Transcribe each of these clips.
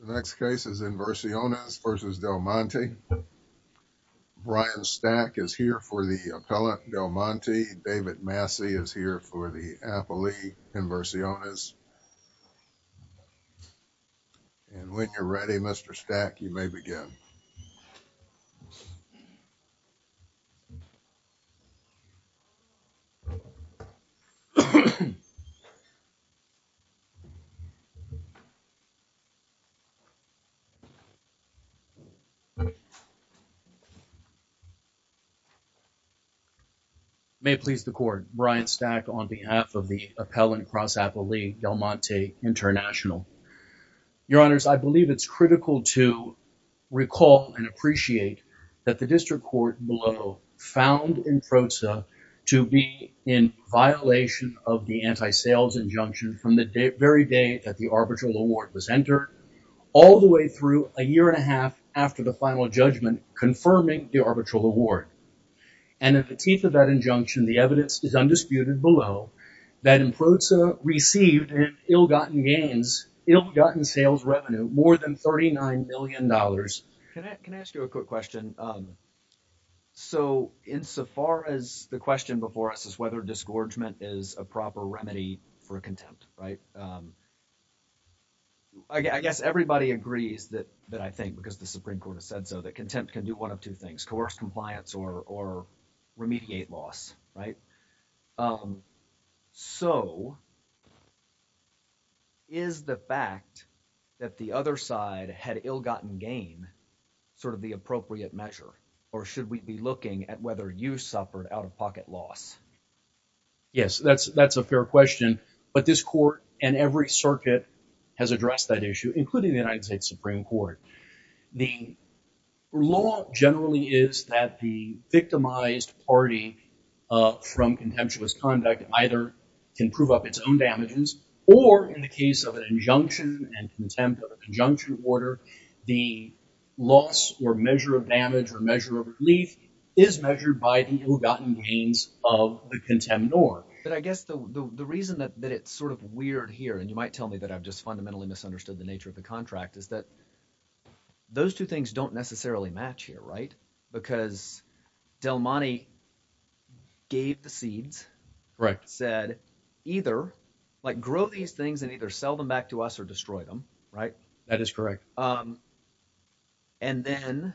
The next case is Inversiones v. Del Monte. Brian Stack is here for the Appellant Del Monte. David Massey is here for the Appellee Inversiones. And when you're ready, Mr. Stack, you may begin. May it please the Court, Brian Stack on behalf of the Appellant Cross Appellee Del Monte International. Your Honors, I believe it's critical to recall and appreciate that the District Court below found INPROTSA to be in violation of the Anti-Sales Injunction from the very day that the arbitral award was entered all the way through a year and a half after the final judgment confirming the arbitral award. And at the teeth of that injunction, the evidence is undisputed below that INPROTSA received an ill-gotten gains, ill-gotten sales revenue more than $39 million. Can I ask you a quick question? Um, so insofar as the question before us is whether disgorgement is a proper remedy for contempt, right? I guess everybody agrees that I think, because the Supreme Court has said so, that contempt can do one of two things, coerce compliance or remediate loss, right? Um, so is the fact that the other side had ill-gotten gain sort of the appropriate measure, or should we be looking at whether you suffered out-of-pocket loss? Yes, that's a fair question. But this court and every circuit has addressed that issue, including the United States Supreme Court. The law generally is that the victimized party from contemptuous conduct either can prove up its own damages, or in the case of an injunction and contempt of a conjunction order, the loss or measure of damage or measure of relief is measured by the ill-gotten gains of the contemnor. But I guess the reason that it's sort of weird here, and you might tell me that I've just those two things don't necessarily match here, right? Because Del Monte gave the seeds, said either, like grow these things and either sell them back to us or destroy them, right? That is correct. And then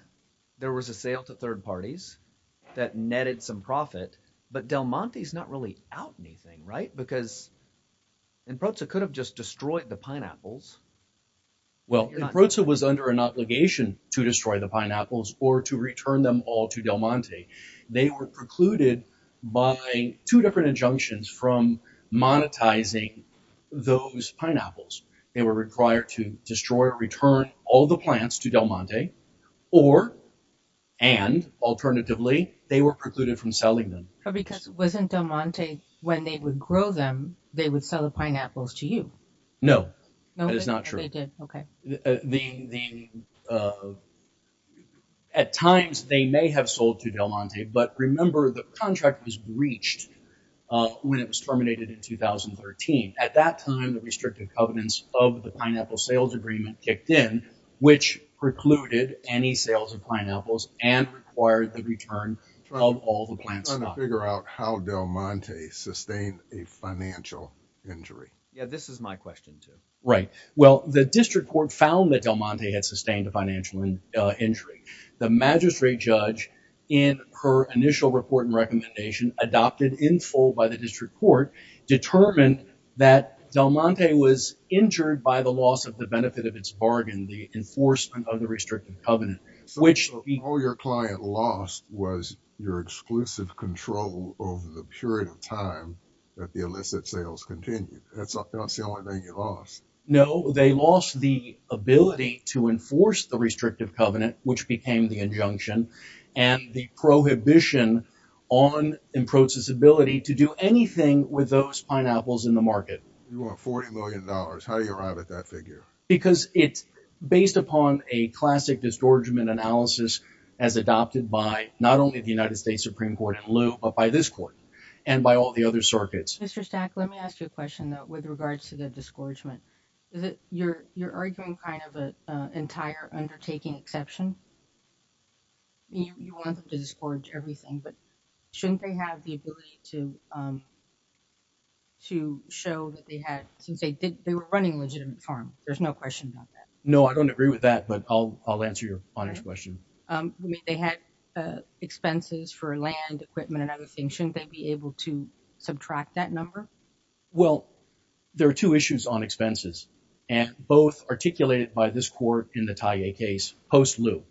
there was a sale to third parties that netted some profit, but Del Monte's not really out anything, right? Because Improza could have just destroyed the pineapples. Well, Improza was under an obligation to destroy the pineapples or to return them all to Del Monte. They were precluded by two different injunctions from monetizing those pineapples. They were required to destroy or return all the plants to Del Monte or, and alternatively, they were precluded from selling them. Because wasn't Del Monte, when they would grow them, they would sell the pineapples to you? No, that is not true. At times they may have sold to Del Monte, but remember the contract was breached when it was terminated in 2013. At that time, the restrictive covenants of the pineapple sales agreement kicked in, which precluded any sales of pineapples and required the return of all the plants. I'm trying to figure out how Del Monte sustained a financial injury. Yeah, this is my question too. Right. Well, the district court found that Del Monte had sustained a financial injury. The magistrate judge in her initial report and recommendation, adopted in full by the district court, determined that Del Monte was injured by the loss of the benefit of its bargain, the enforcement of the restrictive covenant. So all your client lost was your exclusive control over the period of time that the illicit sales continued. That's the only thing you lost. No, they lost the ability to enforce the restrictive covenant, which became the injunction and the prohibition on in-process ability to do anything with those pineapples in the market. You want $40 million. How do you arrive at that figure? Because it's based upon a classic distortionment analysis as adopted by not only the United States Supreme Court in lieu, but by this court and by all the other circuits. Mr. Stack, let me ask you a question that with regards to the discouragement, is it you're, you're arguing kind of a entire undertaking exception. You want them to discourage everything, but shouldn't they have the ability to, to show that they had, since they did, they were running legitimate farm. There's no question about that. No, I don't agree with that, but I'll, I'll answer your honest question. They had expenses for land equipment and other things. Shouldn't they be able to subtract that number? Well, there are two issues on expenses and both articulated by this court in the Taiye case, post-lieu.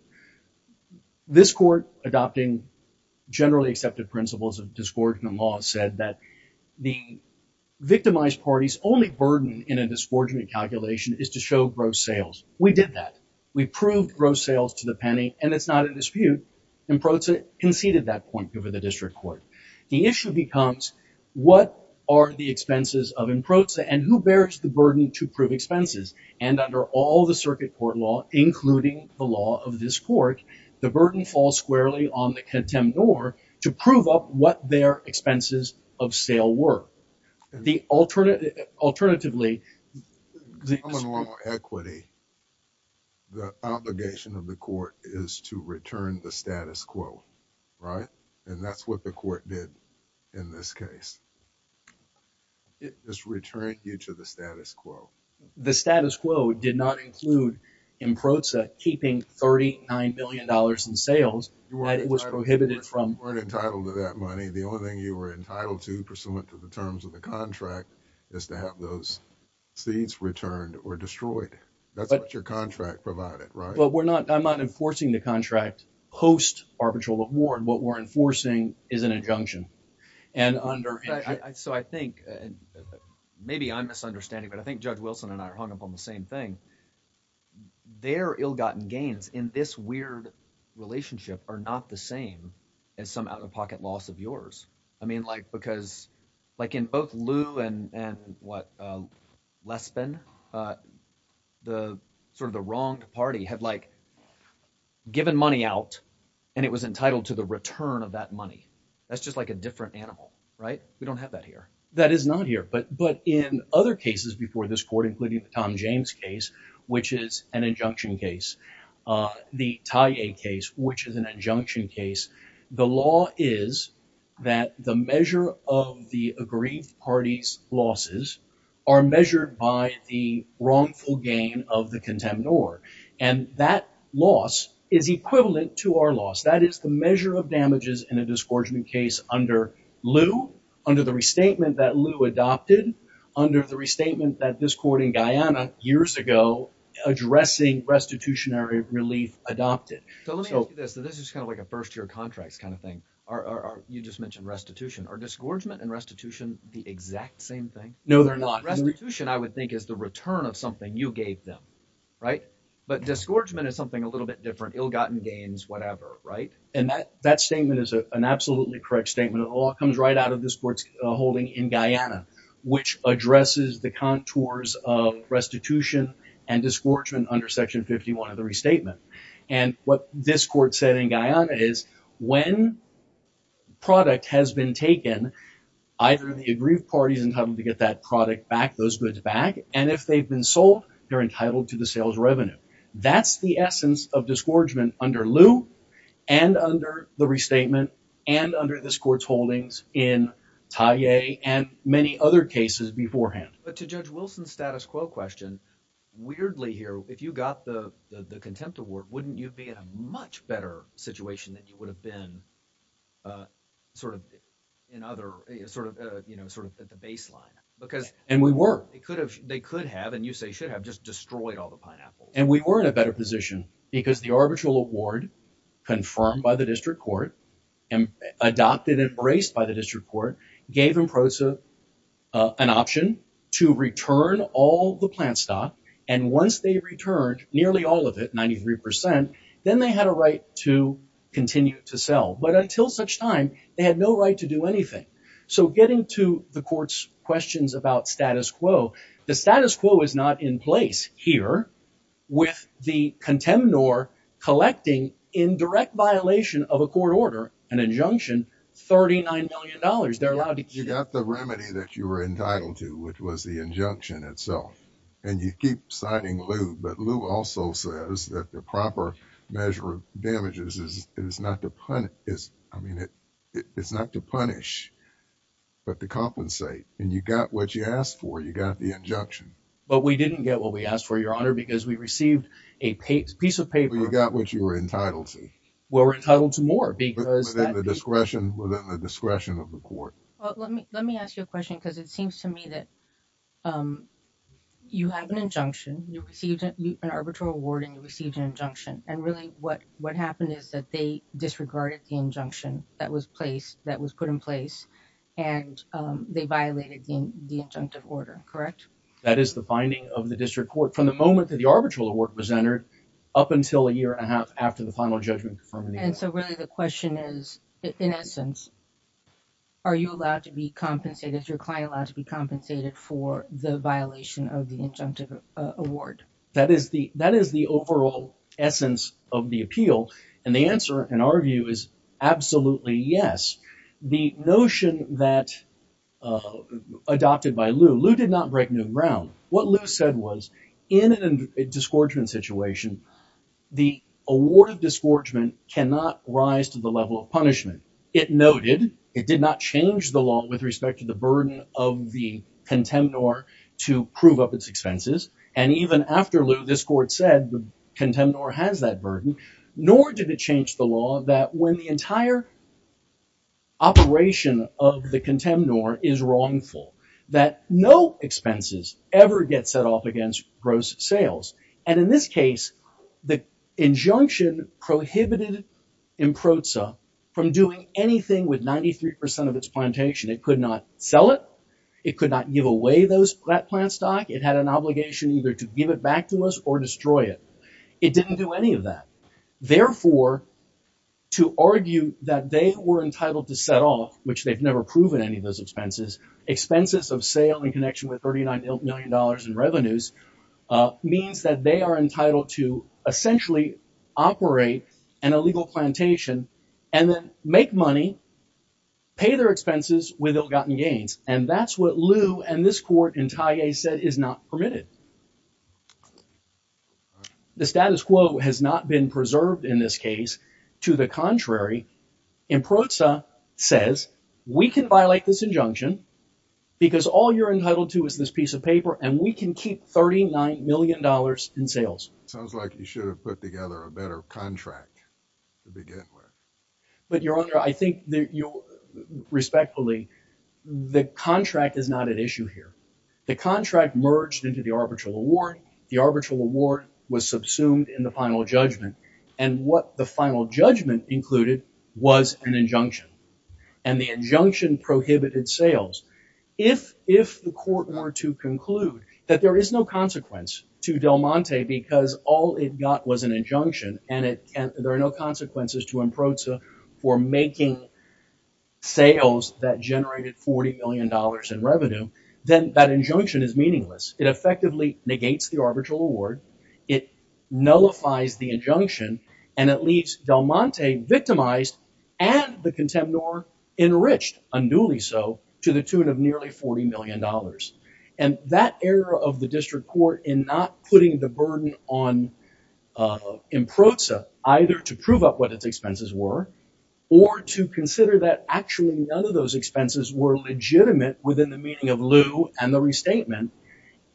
This court adopting generally accepted principles of discouragement law said that the victimized parties only burden in a discouragement calculation is to show gross sales. We did that. We proved gross sales to the penny and it's not a dispute and proceeded that point over the district court. The issue becomes what are the expenses of in-prosa and who bears the burden to prove expenses. And under all the circuit court law, including the law of this court, the burden falls squarely on the contemnor to prove up what their expenses of sale were. The alternate, alternatively, equity, the obligation of the court is to return the status quo, right? And that's what the court did in this case. It just returned you to the status quo. The status quo did not include in-prosa keeping $39 million in sales that was prohibited from weren't entitled to that money. The only thing you were entitled to pursuant to the terms of the contract is to have those seeds returned or destroyed. That's what your contract provided, right? I'm not enforcing the contract post arbitral award. What we're enforcing is an injunction. So I think maybe I'm misunderstanding, but I think Judge Wilson and I are hung up on the same thing. Their ill-gotten gains in this weird relationship are not the same as some out-of-pocket loss of yours. Because in both Lew and Lespin, the wronged party had given money out and it was entitled to the return of that money. That's just like a different animal, right? We don't have that here. That is not here. But in other cases before this court, including the Tom James case, which is an injunction case, the Taiye case, which is an injunction case, the law is that the measure of the aggrieved party's losses are measured by the wrongful gain of the contendor. And that loss is equivalent to our loss. That is the measure of damages in a disgorgement case under Lew, under the restatement that years ago addressing restitutionary relief adopted. So let me ask you this. This is kind of like a first-year contracts kind of thing. You just mentioned restitution. Are disgorgement and restitution the exact same thing? No, they're not. Restitution, I would think, is the return of something you gave them, right? But disgorgement is something a little bit different. Ill-gotten gains, whatever, right? And that statement is an absolutely correct statement. It all comes right out of this court's holding in Guyana, which addresses the contours of restitution and disgorgement under section 51 of the restatement. And what this court said in Guyana is when product has been taken, either the aggrieved party is entitled to get that product back, those goods back, and if they've been sold, they're entitled to the sales revenue. That's the essence of disgorgement under Lew and under the restatement and under this court's holdings in Taiye and many other cases beforehand. But to Judge Wilson's status quo question, weirdly here, if you got the contempt award, wouldn't you be in a much better situation than you would have been sort of at the baseline? And we were. They could have, and you say should have, just destroyed all the pineapples. And we were in a better position because the arbitral award confirmed by the district court and adopted and embraced by the district court gave IMPROSA an option to return all the plant stock. And once they returned nearly all of it, 93 percent, then they had a right to continue to sell. But until such time, they had no right to do anything. So getting to the court's questions about status quo, the status quo is not in place here with the contempt or collecting in direct violation of a court order, an injunction, thirty nine million dollars. They're allowed to get the remedy that you were entitled to, which was the injunction itself. And you keep citing Lew. But Lew also says that the proper measure of damages is not to punish, but to compensate. And you got what you asked for. You got the injunction. But we didn't get what we asked for, Your Honor, because we received a piece of paper. You got what you were entitled to. We were entitled to more because. Within the discretion of the court. Let me ask you a question because it seems to me that you have an injunction. You received an arbitral award and you received an injunction. And really what happened is that they disregarded the injunction that was put in place and they violated the injunctive order. Correct? That is the finding of the district court from the moment that the arbitral award was entered up until a year and a half after the final judgment. And so really the question is, in essence, are you allowed to be compensated? Is your client allowed to be compensated for the violation of the injunctive award? That is the that is the overall essence of the appeal. And the answer, in our view, is absolutely yes. The notion that adopted by Lew, Lew did not break new ground. What Lew said was in a disgorgement situation, the award of disgorgement cannot rise to the level of punishment. It noted it did not change the law with respect to the burden of the contemnor to prove up its expenses. And even after Lew, this court said the contemnor has that burden, nor did it change the law that when the entire operation of the contemnor is wrongful, that no expenses ever get set off against gross sales. And in this case, the injunction prohibited Improza from doing anything with 93 percent of its plantation. It could not sell it. It could not give away those plant stock. It had an obligation either to give it back to us or destroy it. It didn't do any of that. Therefore, to argue that they were entitled to set off, which they've never proven any of those expenses, expenses of sale in connection with $39 million in revenues means that they are entitled to essentially operate an illegal plantation and then make money, pay their expenses with ill-gotten gains. And that's what Lew and this court in Taiye said is not permitted. The status quo has not been preserved in this case. To the contrary, Improza says we can violate this injunction because all you're entitled to is this piece of paper and we can keep $39 million in sales. Sounds like you should have put together a better contract to begin with. But Your Honor, I think that you respectfully, the contract is not at issue here. The contract merged into the arbitral award. The arbitral award was subsumed in the final judgment. And what the final judgment included was an injunction. And the injunction prohibited sales. If the court were to conclude that there is no consequence to Del Monte because all it got was an injunction and there are no consequences to Improza for making sales that generated $40 million in revenue, then that injunction is meaningless. It effectively negates the arbitral award. It nullifies the injunction. And it leaves Del Monte victimized and the contemnor enriched, unduly so, to the tune of nearly $40 million. And that error of the district court in not putting the burden on Improza either to prove up what its expenses were or to consider that actually none of those expenses were legitimate within the meaning of lieu and the restatement,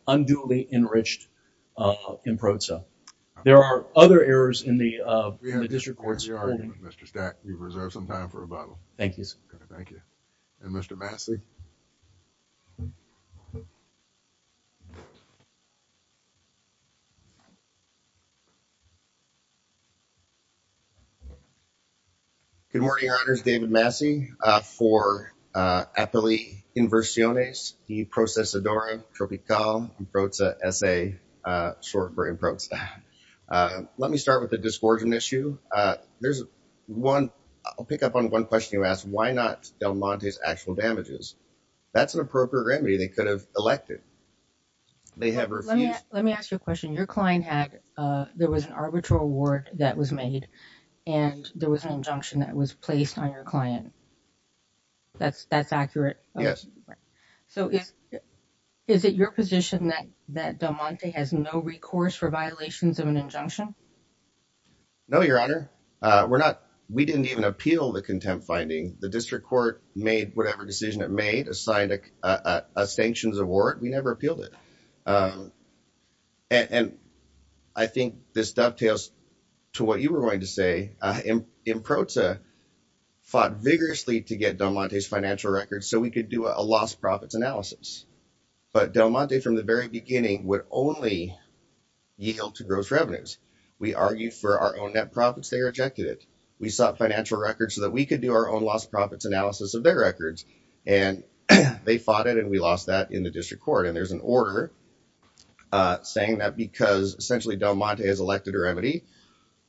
unduly enriched Improza. There are other errors in the district court's holding. Mr. Stack, you've reserved some time for rebuttal. Thank you, sir. Thank you. And Mr. Massey? Good morning, Your Honors. David Massey for Apelli Inversiones, the Processadora Tropical Improza S.A., short for Improza. Let me start with the disgorgement issue. There's one, I'll pick up on one question you asked. Why not Del Monte's actual damages? That's an appropriate remedy. They could have elected. They have refused. Let me ask you a question. Your client had, there was an arbitral award that was made and there was an injunction that was placed on your client. That's accurate? So is it your position that Del Monte has no recourse for violations of an injunction? No, Your Honor, we're not. We didn't even appeal the contempt finding. The district court made whatever decision it made, assigned a sanctions award. We never appealed it. And I think this dovetails to what you were going to say. Improza fought vigorously to get Del Monte's financial records so we could do a lost profits analysis. But Del Monte, from the very beginning, would only yield to gross revenues. We argued for our own net profits. They rejected it. We sought financial records so that we could do our own lost profits analysis of their records. And they fought it and we lost that in the district court. And there's an order saying that because essentially Del Monte has elected a remedy,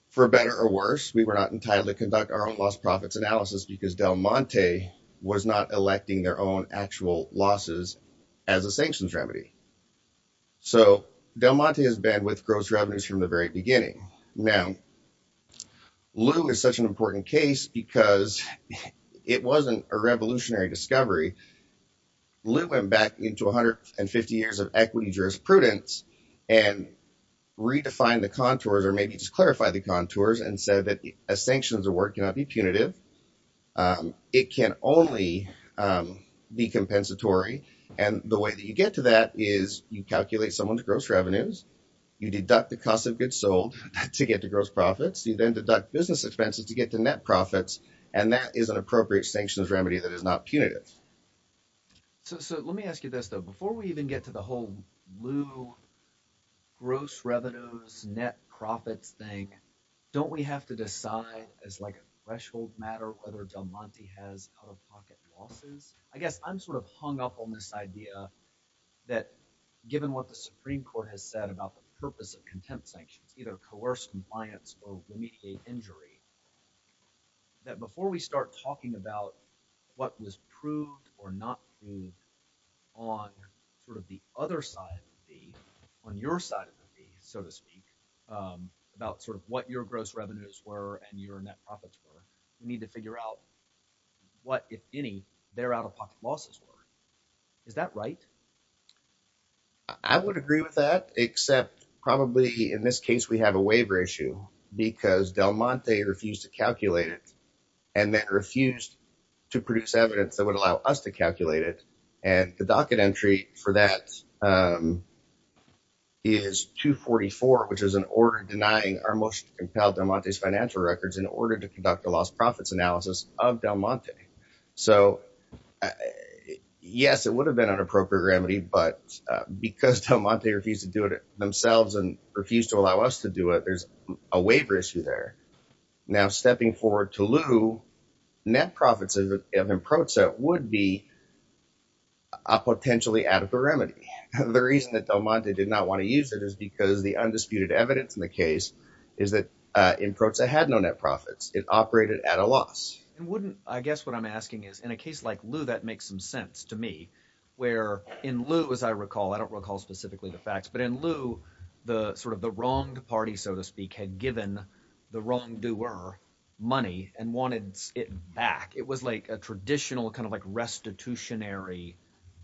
for better or worse, we were not entitled to conduct our own lost profits analysis because Del Monte was not electing their own actual losses as a sanctions remedy. So Del Monte has been with gross revenues from the very beginning. Now, Lew is such an important case because it wasn't a revolutionary discovery. Lew went back into 150 years of equity jurisprudence and redefined the contours, or maybe just clarify the contours, and said that a sanctions award cannot be punitive. It can only be compensatory. And the way that you get to that is you calculate someone's gross revenues. You deduct the cost of goods sold to get to gross profits. You then deduct business expenses to get to net profits. And that is an appropriate sanctions remedy that is not punitive. So let me ask you this, though. Before we even get to the whole Lew, gross revenues, net profits thing, don't we have to decide as like a threshold matter whether Del Monte has out-of-pocket losses? I guess I'm sort of hung up on this idea that given what the Supreme Court has said about the purpose of contempt sanctions, either coerce, compliance, or remediate injury, that before we start talking about what was proved or not proved on sort of the other side of the feed, on your side of the feed, so to speak, about sort of what your gross revenues were and your net profits were, we need to figure out what, if any, their out-of-pocket losses were. Is that right? I would agree with that, except probably in this case we have a waiver issue because Del Monte refused to calculate it and then refused to produce evidence that would allow us to calculate it. And the docket entry for that is 244, which is an order denying our motion to compel Del Monte's financial records in order to conduct a lost profits analysis of Del Monte. So yes, it would have been an appropriate remedy, but because Del Monte refused to do it themselves and refused to allow us to do it, there's a waiver issue there. Now, stepping forward to lieu, net profits of Improza would be a potentially adequate remedy. The reason that Del Monte did not want to use it is because the undisputed evidence in the case is that Improza had no net profits. It operated at a loss. I guess what I'm asking is, in a case like lieu, that makes some sense to me, where in lieu, as I recall, I don't recall specifically the facts, but in lieu, the wronged party, so to speak, had given the wrongdoer money and wanted it back. It was a traditional restitutionary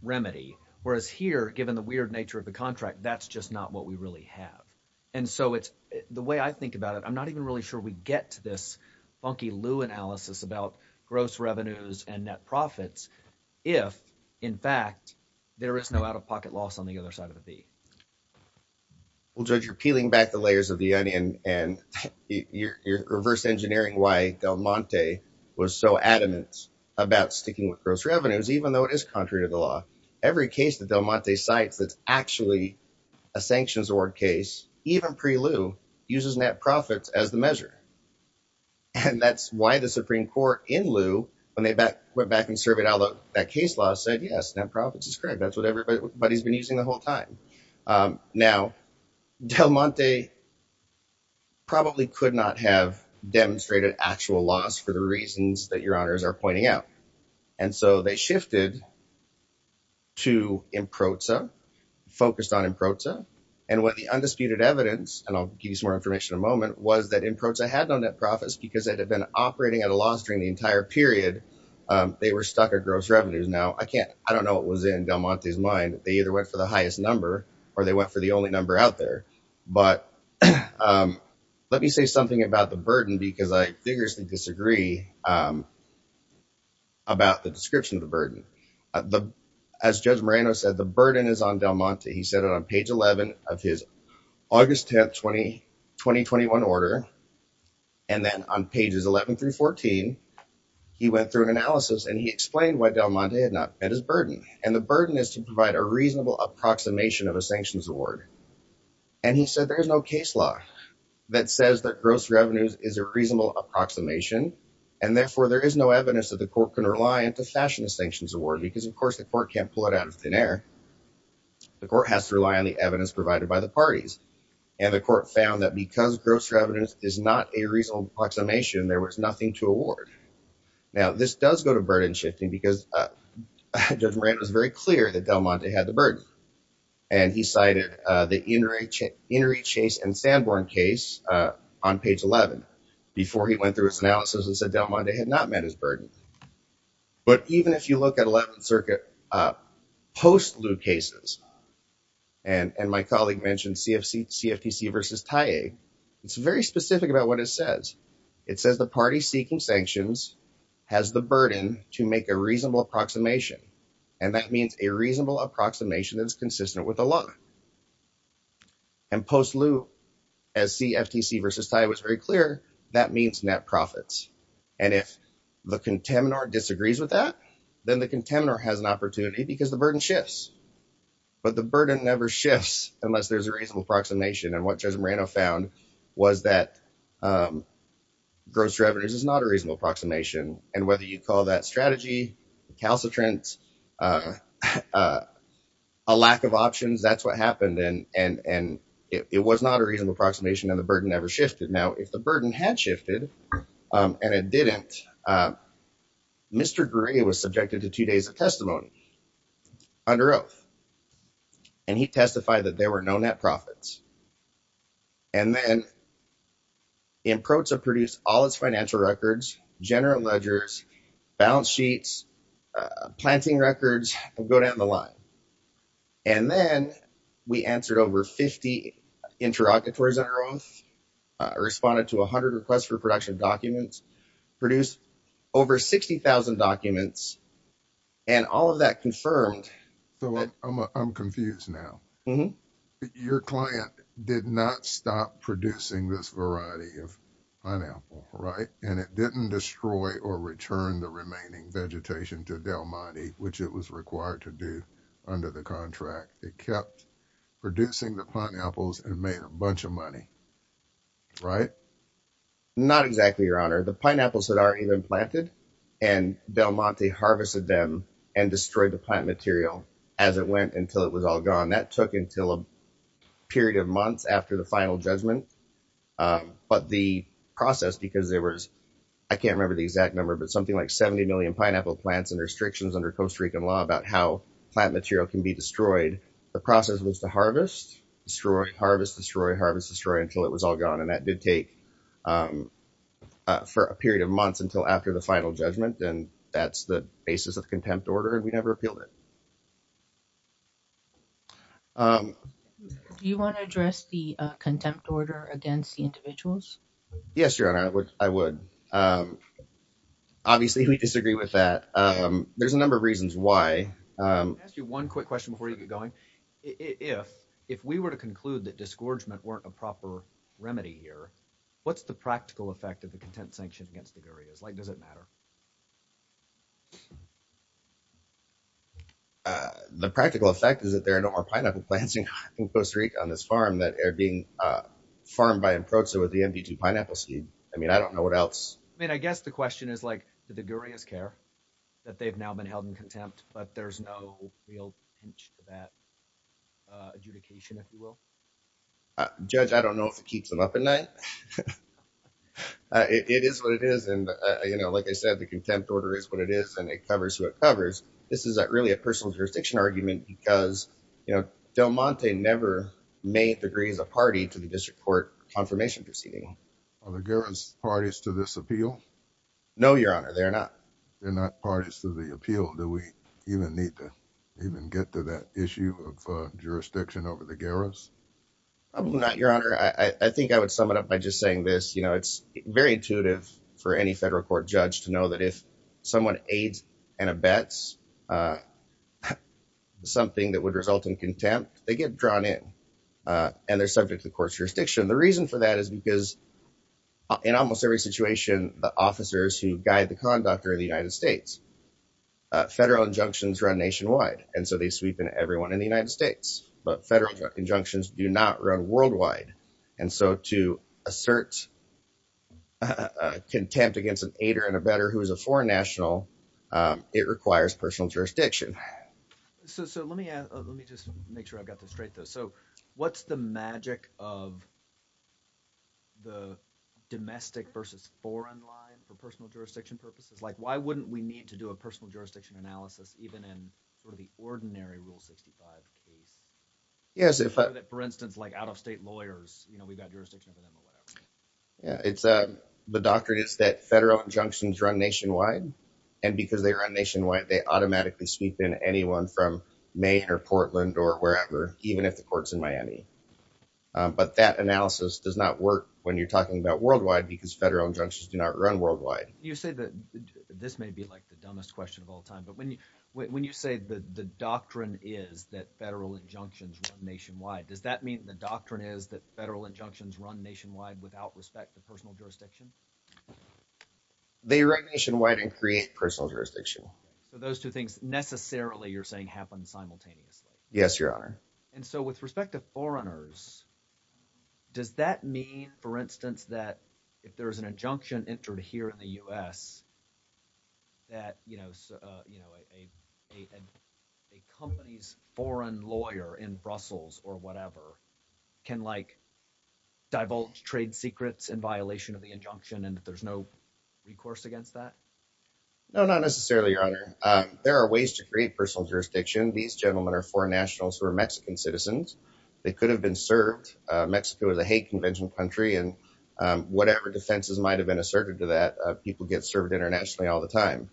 remedy, whereas here, given the weird nature of the contract, that's just not what we really have. And so the way I think about it, I'm not even really sure we get to this funky lieu analysis about gross revenues and net profits if, in fact, there is no out-of-pocket loss on the other side of the beak. Well, Judge, you're peeling back the layers of the onion, and you're reverse engineering why Del Monte was so adamant about sticking with gross revenues, even though it is contrary to the law. Every case that Del Monte cites that's actually a sanctions award case, even pre-lieu, uses net profits as the measure. And that's why the Supreme Court, in lieu, when they went back and surveyed all of that case law, said, yes, net profits is correct. That's what everybody's been using the whole time. Now, Del Monte probably could not have demonstrated actual loss for the reasons that your honors are pointing out. And so they shifted to IMPROZA, focused on IMPROZA. And what the undisputed evidence, and I'll give you some more information in a moment, was that IMPROZA had no net profits because it had been operating at a loss during the entire period. They were stuck at gross revenues. Now, I don't know what was in Del Monte's mind. They either went for the highest number or they went for the only number out there. But let me say something about the burden, because I vigorously disagree about the description of the burden. As Judge Moreno said, the burden is on Del Monte. He said it on page 11 of his August 10, 2021 order. And then on pages 11 through 14, he went through an analysis and he explained why Del Monte had not met his burden. And the burden is to provide a reasonable approximation of a sanctions award. And he said there is no case law that says that gross revenues is a reasonable approximation. And therefore, there is no evidence that the court can rely on to fashion a sanctions award because, of course, the court can't pull it out of thin air. The court has to rely on the evidence provided by the parties. And the court found that because gross revenues is not a reasonable approximation, there was nothing to award. Now, this does go to burden shifting because Judge Moreno was very clear that Del Monte had the burden. And he cited the Inouye Chase and Sanborn case on page 11 before he went through his analysis and said Del Monte had not met his burden. But even if you look at 11th Circuit post-lieu cases, and my colleague mentioned CFTC versus TAE, it's very specific about what it says. It says the party seeking sanctions has the burden to make a reasonable approximation. And that means a reasonable approximation that is consistent with the law. And post-lieu, as CFTC versus TAE was very clear, that means net profits. And if the contemnor disagrees with that, then the contemnor has an opportunity because the burden shifts. But the burden never shifts unless there's a reasonable approximation. And what Judge Moreno found was that gross revenues is not a reasonable approximation. And whether you call that strategy, the calcitrant, a lack of options, that's what happened. And it was not a reasonable approximation and the burden never shifted. Now, if the burden had shifted and it didn't, Mr. Greer was subjected to two days of testimony under oath. And he testified that there were no net profits. And then IMPROTSA produced all its financial records, general ledgers, balance sheets, planting records, go down the line. And then we answered over 50 interlocutories under oath, responded to 100 requests for production documents, produced over 60,000 documents. And all of that confirmed. So I'm confused now. Your client did not stop producing this variety of pineapple, right? And it didn't destroy or return the remaining vegetation to Del Monte, which it was required to do under the contract. It kept producing the pineapples and made a bunch of money, right? Not exactly, Your Honor. The pineapples that are even planted and Del Monte harvested them and destroyed the plant material as it went until it was all gone. That took until a period of months after the final judgment. But the process, because there was, I can't remember the exact number, but something like 70 million pineapple plants and restrictions under Costa Rican law about how plant material can be destroyed. The process was to harvest, destroy, harvest, destroy, harvest, destroy until it was all gone. And that did take for a period of months until after the final judgment. And that's the basis of contempt order. And we never appealed it. Do you want to address the contempt order against the individuals? Yes, Your Honor, I would. Obviously, we disagree with that. There's a number of reasons why. Let me ask you one quick question before you get going. If we were to conclude that disgorgement weren't a proper remedy here, what's the practical effect of the contempt sanction against the areas? Like, does it matter? The practical effect is that there are no more pineapple plants in Costa Rica on this farm that are being farmed by Enproza with the MD2 pineapple seed. I mean, I don't know what else. I mean, I guess the question is, like, did the Gurias care that they've now been held in contempt? But there's no real hint to that adjudication, if you will. Judge, I don't know if it keeps them up at night. It is what it is. And, you know, like I said, the contempt order is what it is and it covers what it covers. This is really a personal jurisdiction argument because, you know, Del Monte never made the Grias a party to the district court confirmation proceeding. Are the Grias parties to this appeal? No, Your Honor. They're not. They're not parties to the appeal. Do we even need to even get to that issue of jurisdiction over the Grias? Probably not, Your Honor. I think I would sum it up by just saying this, you know, it's very intuitive for any federal court judge to know that if someone aids and abets something that would result in contempt, they get drawn in and they're subject to the court's jurisdiction. The reason for that is because in almost every situation, the officers who guide the conduct are in the United States. Federal injunctions run nationwide, and so they sweep in everyone in the United States. But federal injunctions do not run worldwide. And so to assert contempt against an aider and abetter who is a foreign national, it requires personal jurisdiction. So let me just make sure I've got this straight, though. What's the magic of the domestic versus foreign line for personal jurisdiction purposes? Why wouldn't we need to do a personal jurisdiction analysis even in the ordinary Rule 65? For instance, like out-of-state lawyers, we've got jurisdiction over them or whatever. The doctrine is that federal injunctions run nationwide, and because they run nationwide, they automatically sweep in anyone from Maine or Portland or wherever, even if the court's in Miami. But that analysis does not work when you're talking about worldwide because federal injunctions do not run worldwide. You say that this may be like the dumbest question of all time, but when you say that the doctrine is that federal injunctions run nationwide, does that mean the doctrine is that federal injunctions run nationwide without respect for personal jurisdiction? They run nationwide and create personal jurisdiction. So those two things necessarily, you're saying, happen simultaneously? Yes, Your Honor. And so with respect to foreigners, does that mean, for instance, that if there's an injunction entered here in the U.S. that a company's foreign lawyer in Brussels or whatever can divulge trade secrets in violation of the injunction and that there's no recourse against that? No, not necessarily, Your Honor. There are ways to create personal jurisdiction. These gentlemen are foreign nationals who are Mexican citizens. They could have been served. Mexico is a hate convention country, and whatever defenses might have been asserted to that, people get served internationally all the time.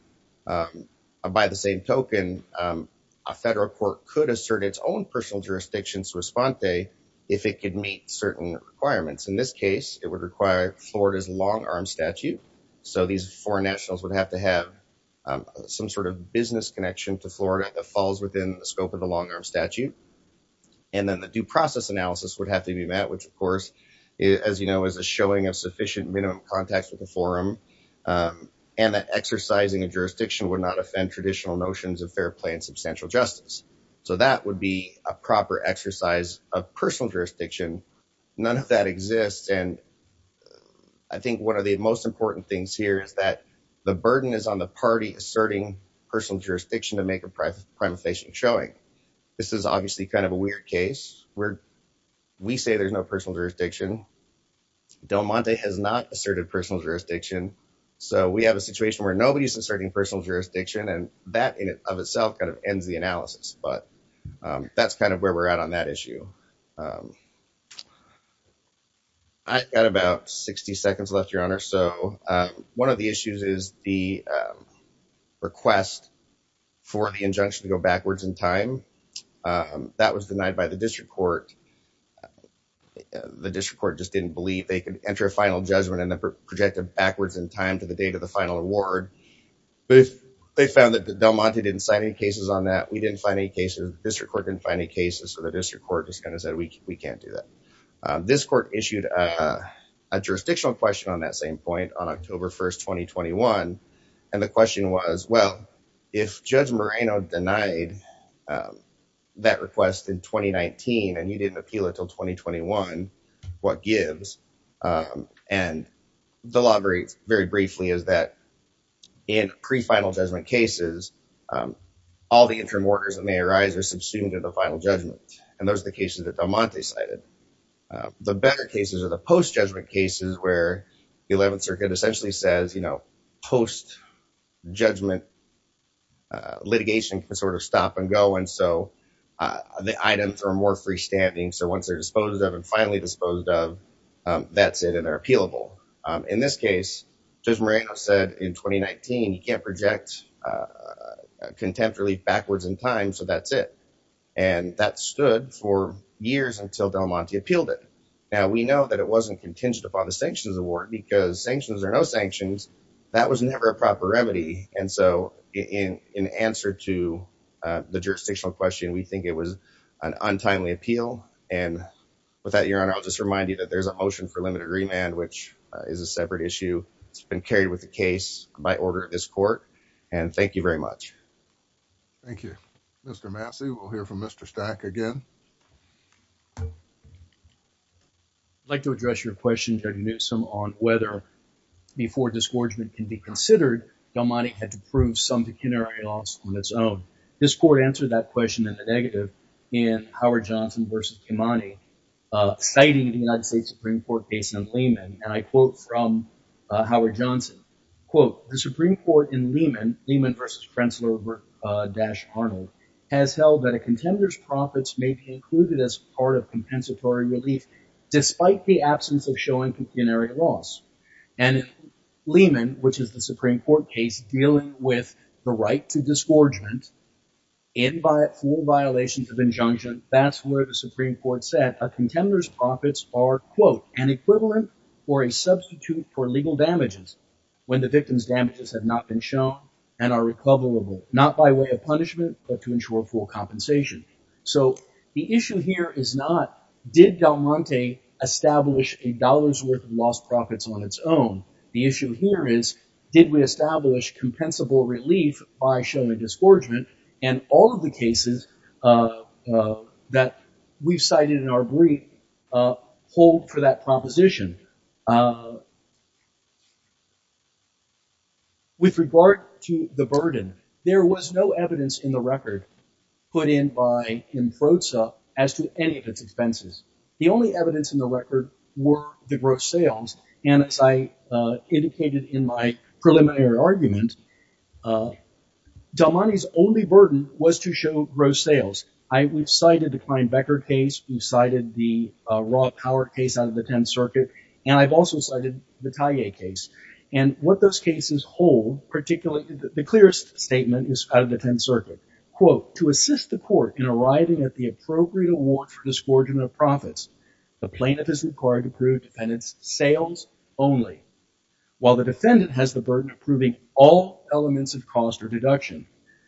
By the same token, a federal court could assert its own personal jurisdiction to respond to if it could meet certain requirements. In this case, it would require Florida's long-arm statute. So these foreign nationals would have to have some sort of business connection to Florida that falls within the scope of the long-arm statute. And then the due process analysis would have to be met, which, of course, as you know, is a showing of sufficient minimum contacts with the forum, and that exercising a jurisdiction would not offend traditional notions of fair play and substantial justice. So that would be a proper exercise of personal jurisdiction. None of that exists. And I think one of the most important things here is that the burden is on the party asserting personal jurisdiction to make a prima facie showing. This is obviously kind of a weird case. We say there's no personal jurisdiction. Del Monte has not asserted personal jurisdiction. So we have a situation where nobody's asserting personal jurisdiction, and that in and of itself kind of ends the analysis. But that's kind of where we're at on that issue. I've got about 60 seconds left, Your Honor. So one of the issues is the request for the injunction to go backwards in time. That was denied by the district court. The district court just didn't believe they could enter a final judgment and project it backwards in time to the date of the final award. But they found that Del Monte didn't sign any cases on that. We didn't find any cases. District court didn't find any cases. So the district court just kind of said, we can't do that. This court issued a jurisdictional question on that same point on October 1st, 2021. And the question was, well, if Judge Moreno denied that request in 2019 and you didn't appeal it until 2021, what gives? And the law very briefly is that in pre-final judgment cases, all the interim orders that may arise are subsumed to the final judgment. And those are the cases that Del Monte cited. The better cases are the post-judgment cases where the 11th Circuit essentially says, you know, post-judgment litigation can sort of stop and go. And so the items are more freestanding. So once they're disposed of and finally disposed of, that's it and they're appealable. In this case, Judge Moreno said in 2019, you can't project contempt relief backwards in time, so that's it. And that stood for years until Del Monte appealed it. Now, we know that it wasn't contingent upon the sanctions award because sanctions are no sanctions. That was never a proper remedy. And so in answer to the jurisdictional question, we think it was an untimely appeal. And with that, Your Honor, I'll just remind you that there's a motion for limited remand, which is a separate issue. It's been carried with the case by order of this court. And thank you very much. Thank you. Mr. Massey, we'll hear from Mr. Stack again. I'd like to address your question, Judge Newsom, on whether, before disgorgement can be considered, Del Monte had to prove some pecuniary loss on its own. This court answered that question in the negative in Howard Johnson v. Del Monte, citing the United States Supreme Court case in Lehman. And I quote from Howard Johnson, quote, the Supreme Court in Lehman, Lehman v. Krentzler-Arnold, has held that a contender's profits may be included as part of compensatory relief despite the absence of showing pecuniary loss. And Lehman, which is the Supreme Court case dealing with the right to disgorgement in by full violations of injunction, that's where the Supreme Court said a contender's profits are, quote, an equivalent or a substitute for legal damages when the victim's damages have not been shown and are recoverable, not by way of punishment, but to ensure full compensation. So the issue here is not, did Del Monte establish a dollar's worth of lost profits on its own? The issue here is, did we establish compensable relief by showing disgorgement? And all of the cases that we've cited in our brief hold for that proposition. With regard to the burden, there was no evidence in the record put in by Imfroza as to any of its expenses. The only evidence in the record were the gross sales. And as I indicated in my preliminary argument, Del Monte's only burden was to show gross sales. We've cited the Klein-Becker case. We've cited the Roth-Howard case out of the Tenth Circuit. And I've also cited the Talia case. And what those cases hold, particularly, the clearest statement is out of the Tenth Circuit. Quote, to assist the court in arriving at the appropriate award for disgorgement of only. While the defendant has the burden of proving all elements of cost or deduction,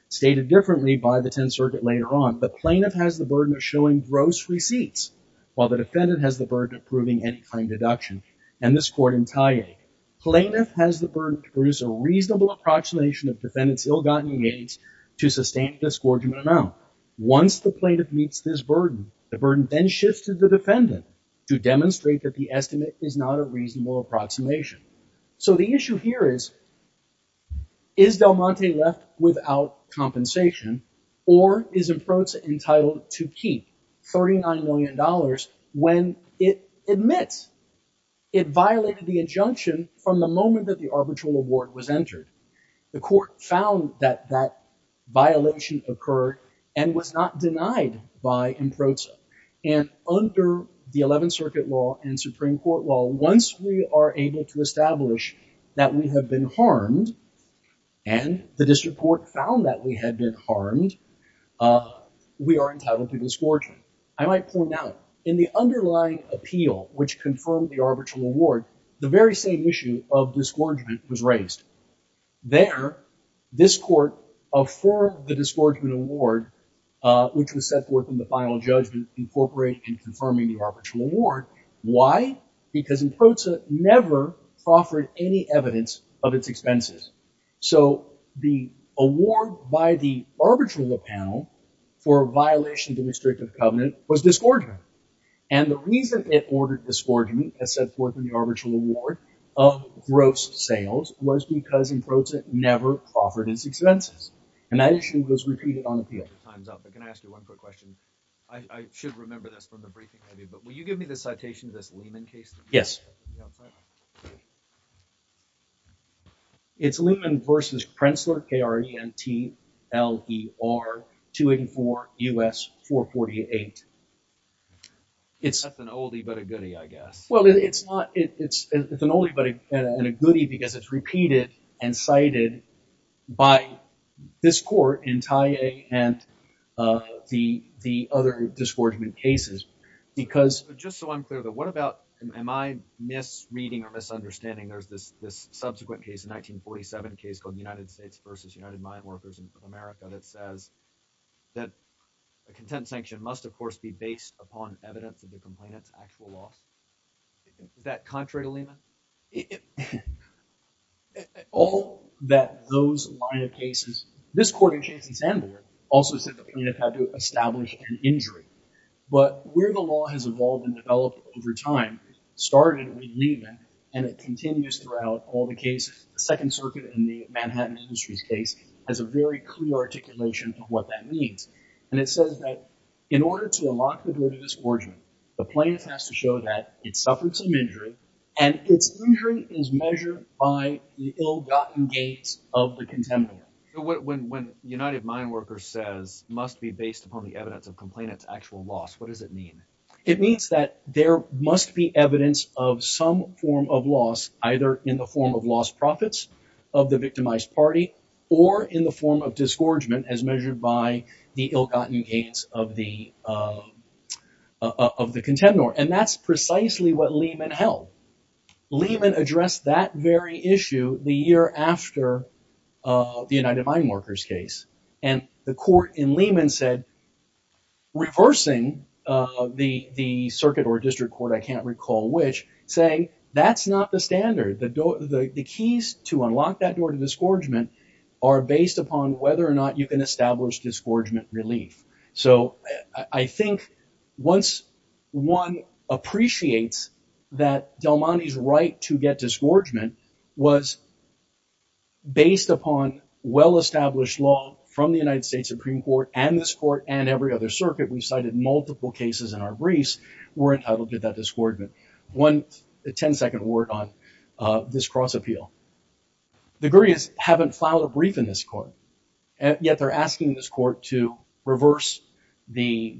stated differently by the Tenth Circuit later on, the plaintiff has the burden of showing gross receipts, while the defendant has the burden of proving any kind of deduction. And this court in Talia, plaintiff has the burden to produce a reasonable approximation of defendant's ill-gotten gains to sustain a disgorgement amount. Once the plaintiff meets this burden, the burden then shifts to the defendant to demonstrate that the estimate is not a reasonable approximation. So the issue here is, is Del Monte left without compensation? Or is Improza entitled to keep $39 million when it admits it violated the injunction from the moment that the arbitral award was entered? The court found that that violation occurred and was not denied by Improza. And under the Eleventh Circuit law and Supreme Court law, once we are able to establish that we have been harmed and the district court found that we had been harmed, we are entitled to disgorgement. I might point out, in the underlying appeal, which confirmed the arbitral award, the very same issue of disgorgement was raised. There, this court affirmed the disgorgement award, which was set forth in the final judgment, incorporating and confirming the arbitral award. Why? Because Improza never proffered any evidence of its expenses. So the award by the arbitral panel for violation of the restrictive covenant was disgorgement. And the reason it ordered disgorgement, as set forth in the arbitral award, of gross sales was because Improza never proffered its expenses. And that issue was repeated on appeal. But can I ask you one quick question? I should remember this from the briefing, but will you give me the citation of this Lehman case? Yes. It's Lehman v. Krentzler, K-R-E-N-T-L-E-R, 284 U.S. 448. It's an oldie but a goodie, I guess. Well, it's an oldie but a goodie because it's repeated and cited by this court in the other disgorgement cases because— Just so I'm clear, though, what about—am I misreading or misunderstanding? There's this subsequent case, a 1947 case called the United States v. United Mine Workers in North America that says that a content sanction must, of course, be based upon evidence of the complainant's actual loss. Is that contrary to Lehman? It—all that those line of cases—this court in Chase and Sandburg also said the plaintiff had to establish an injury. But where the law has evolved and developed over time, it started with Lehman and it continues throughout all the cases. The Second Circuit in the Manhattan Industries case has a very clear articulation of what that means. And it says that in order to unlock the verdict of disgorgement, the plaintiff has to show that it suffered some injury and its injury is measured by the ill-gotten gains of the contendor. When United Mine Workers says must be based upon the evidence of complainant's actual loss, what does it mean? It means that there must be evidence of some form of loss, either in the form of lost profits of the victimized party or in the form of disgorgement as measured by the ill-gotten gains of the contendor. And that's precisely what Lehman held. Lehman addressed that very issue the year after the United Mine Workers case. And the court in Lehman said—reversing the circuit or district court, I can't recall which—saying that's not the standard. The keys to unlock that door to disgorgement are based upon whether or not you can establish disgorgement relief. So I think once one appreciates that Del Monte's right to get disgorgement was based upon well-established law from the United States Supreme Court and this court and every other circuit—we've cited multiple cases in our briefs—we're entitled to that disgorgement. One 10-second word on this cross-appeal. The Gurias haven't filed a brief in this court, yet they're asking this court to reverse the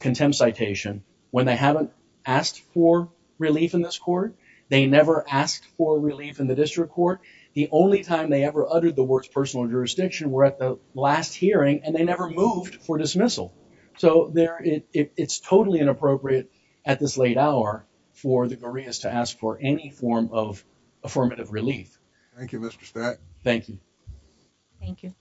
contempt citation when they haven't asked for relief in this court. They never asked for relief in the district court. The only time they ever uttered the words personal jurisdiction were at the last hearing, and they never moved for dismissal. So it's totally inappropriate at this late hour for the Gurias to ask for any form of affirmative relief. Thank you, Mr. Stack. Thank you. Thank you. Thank you.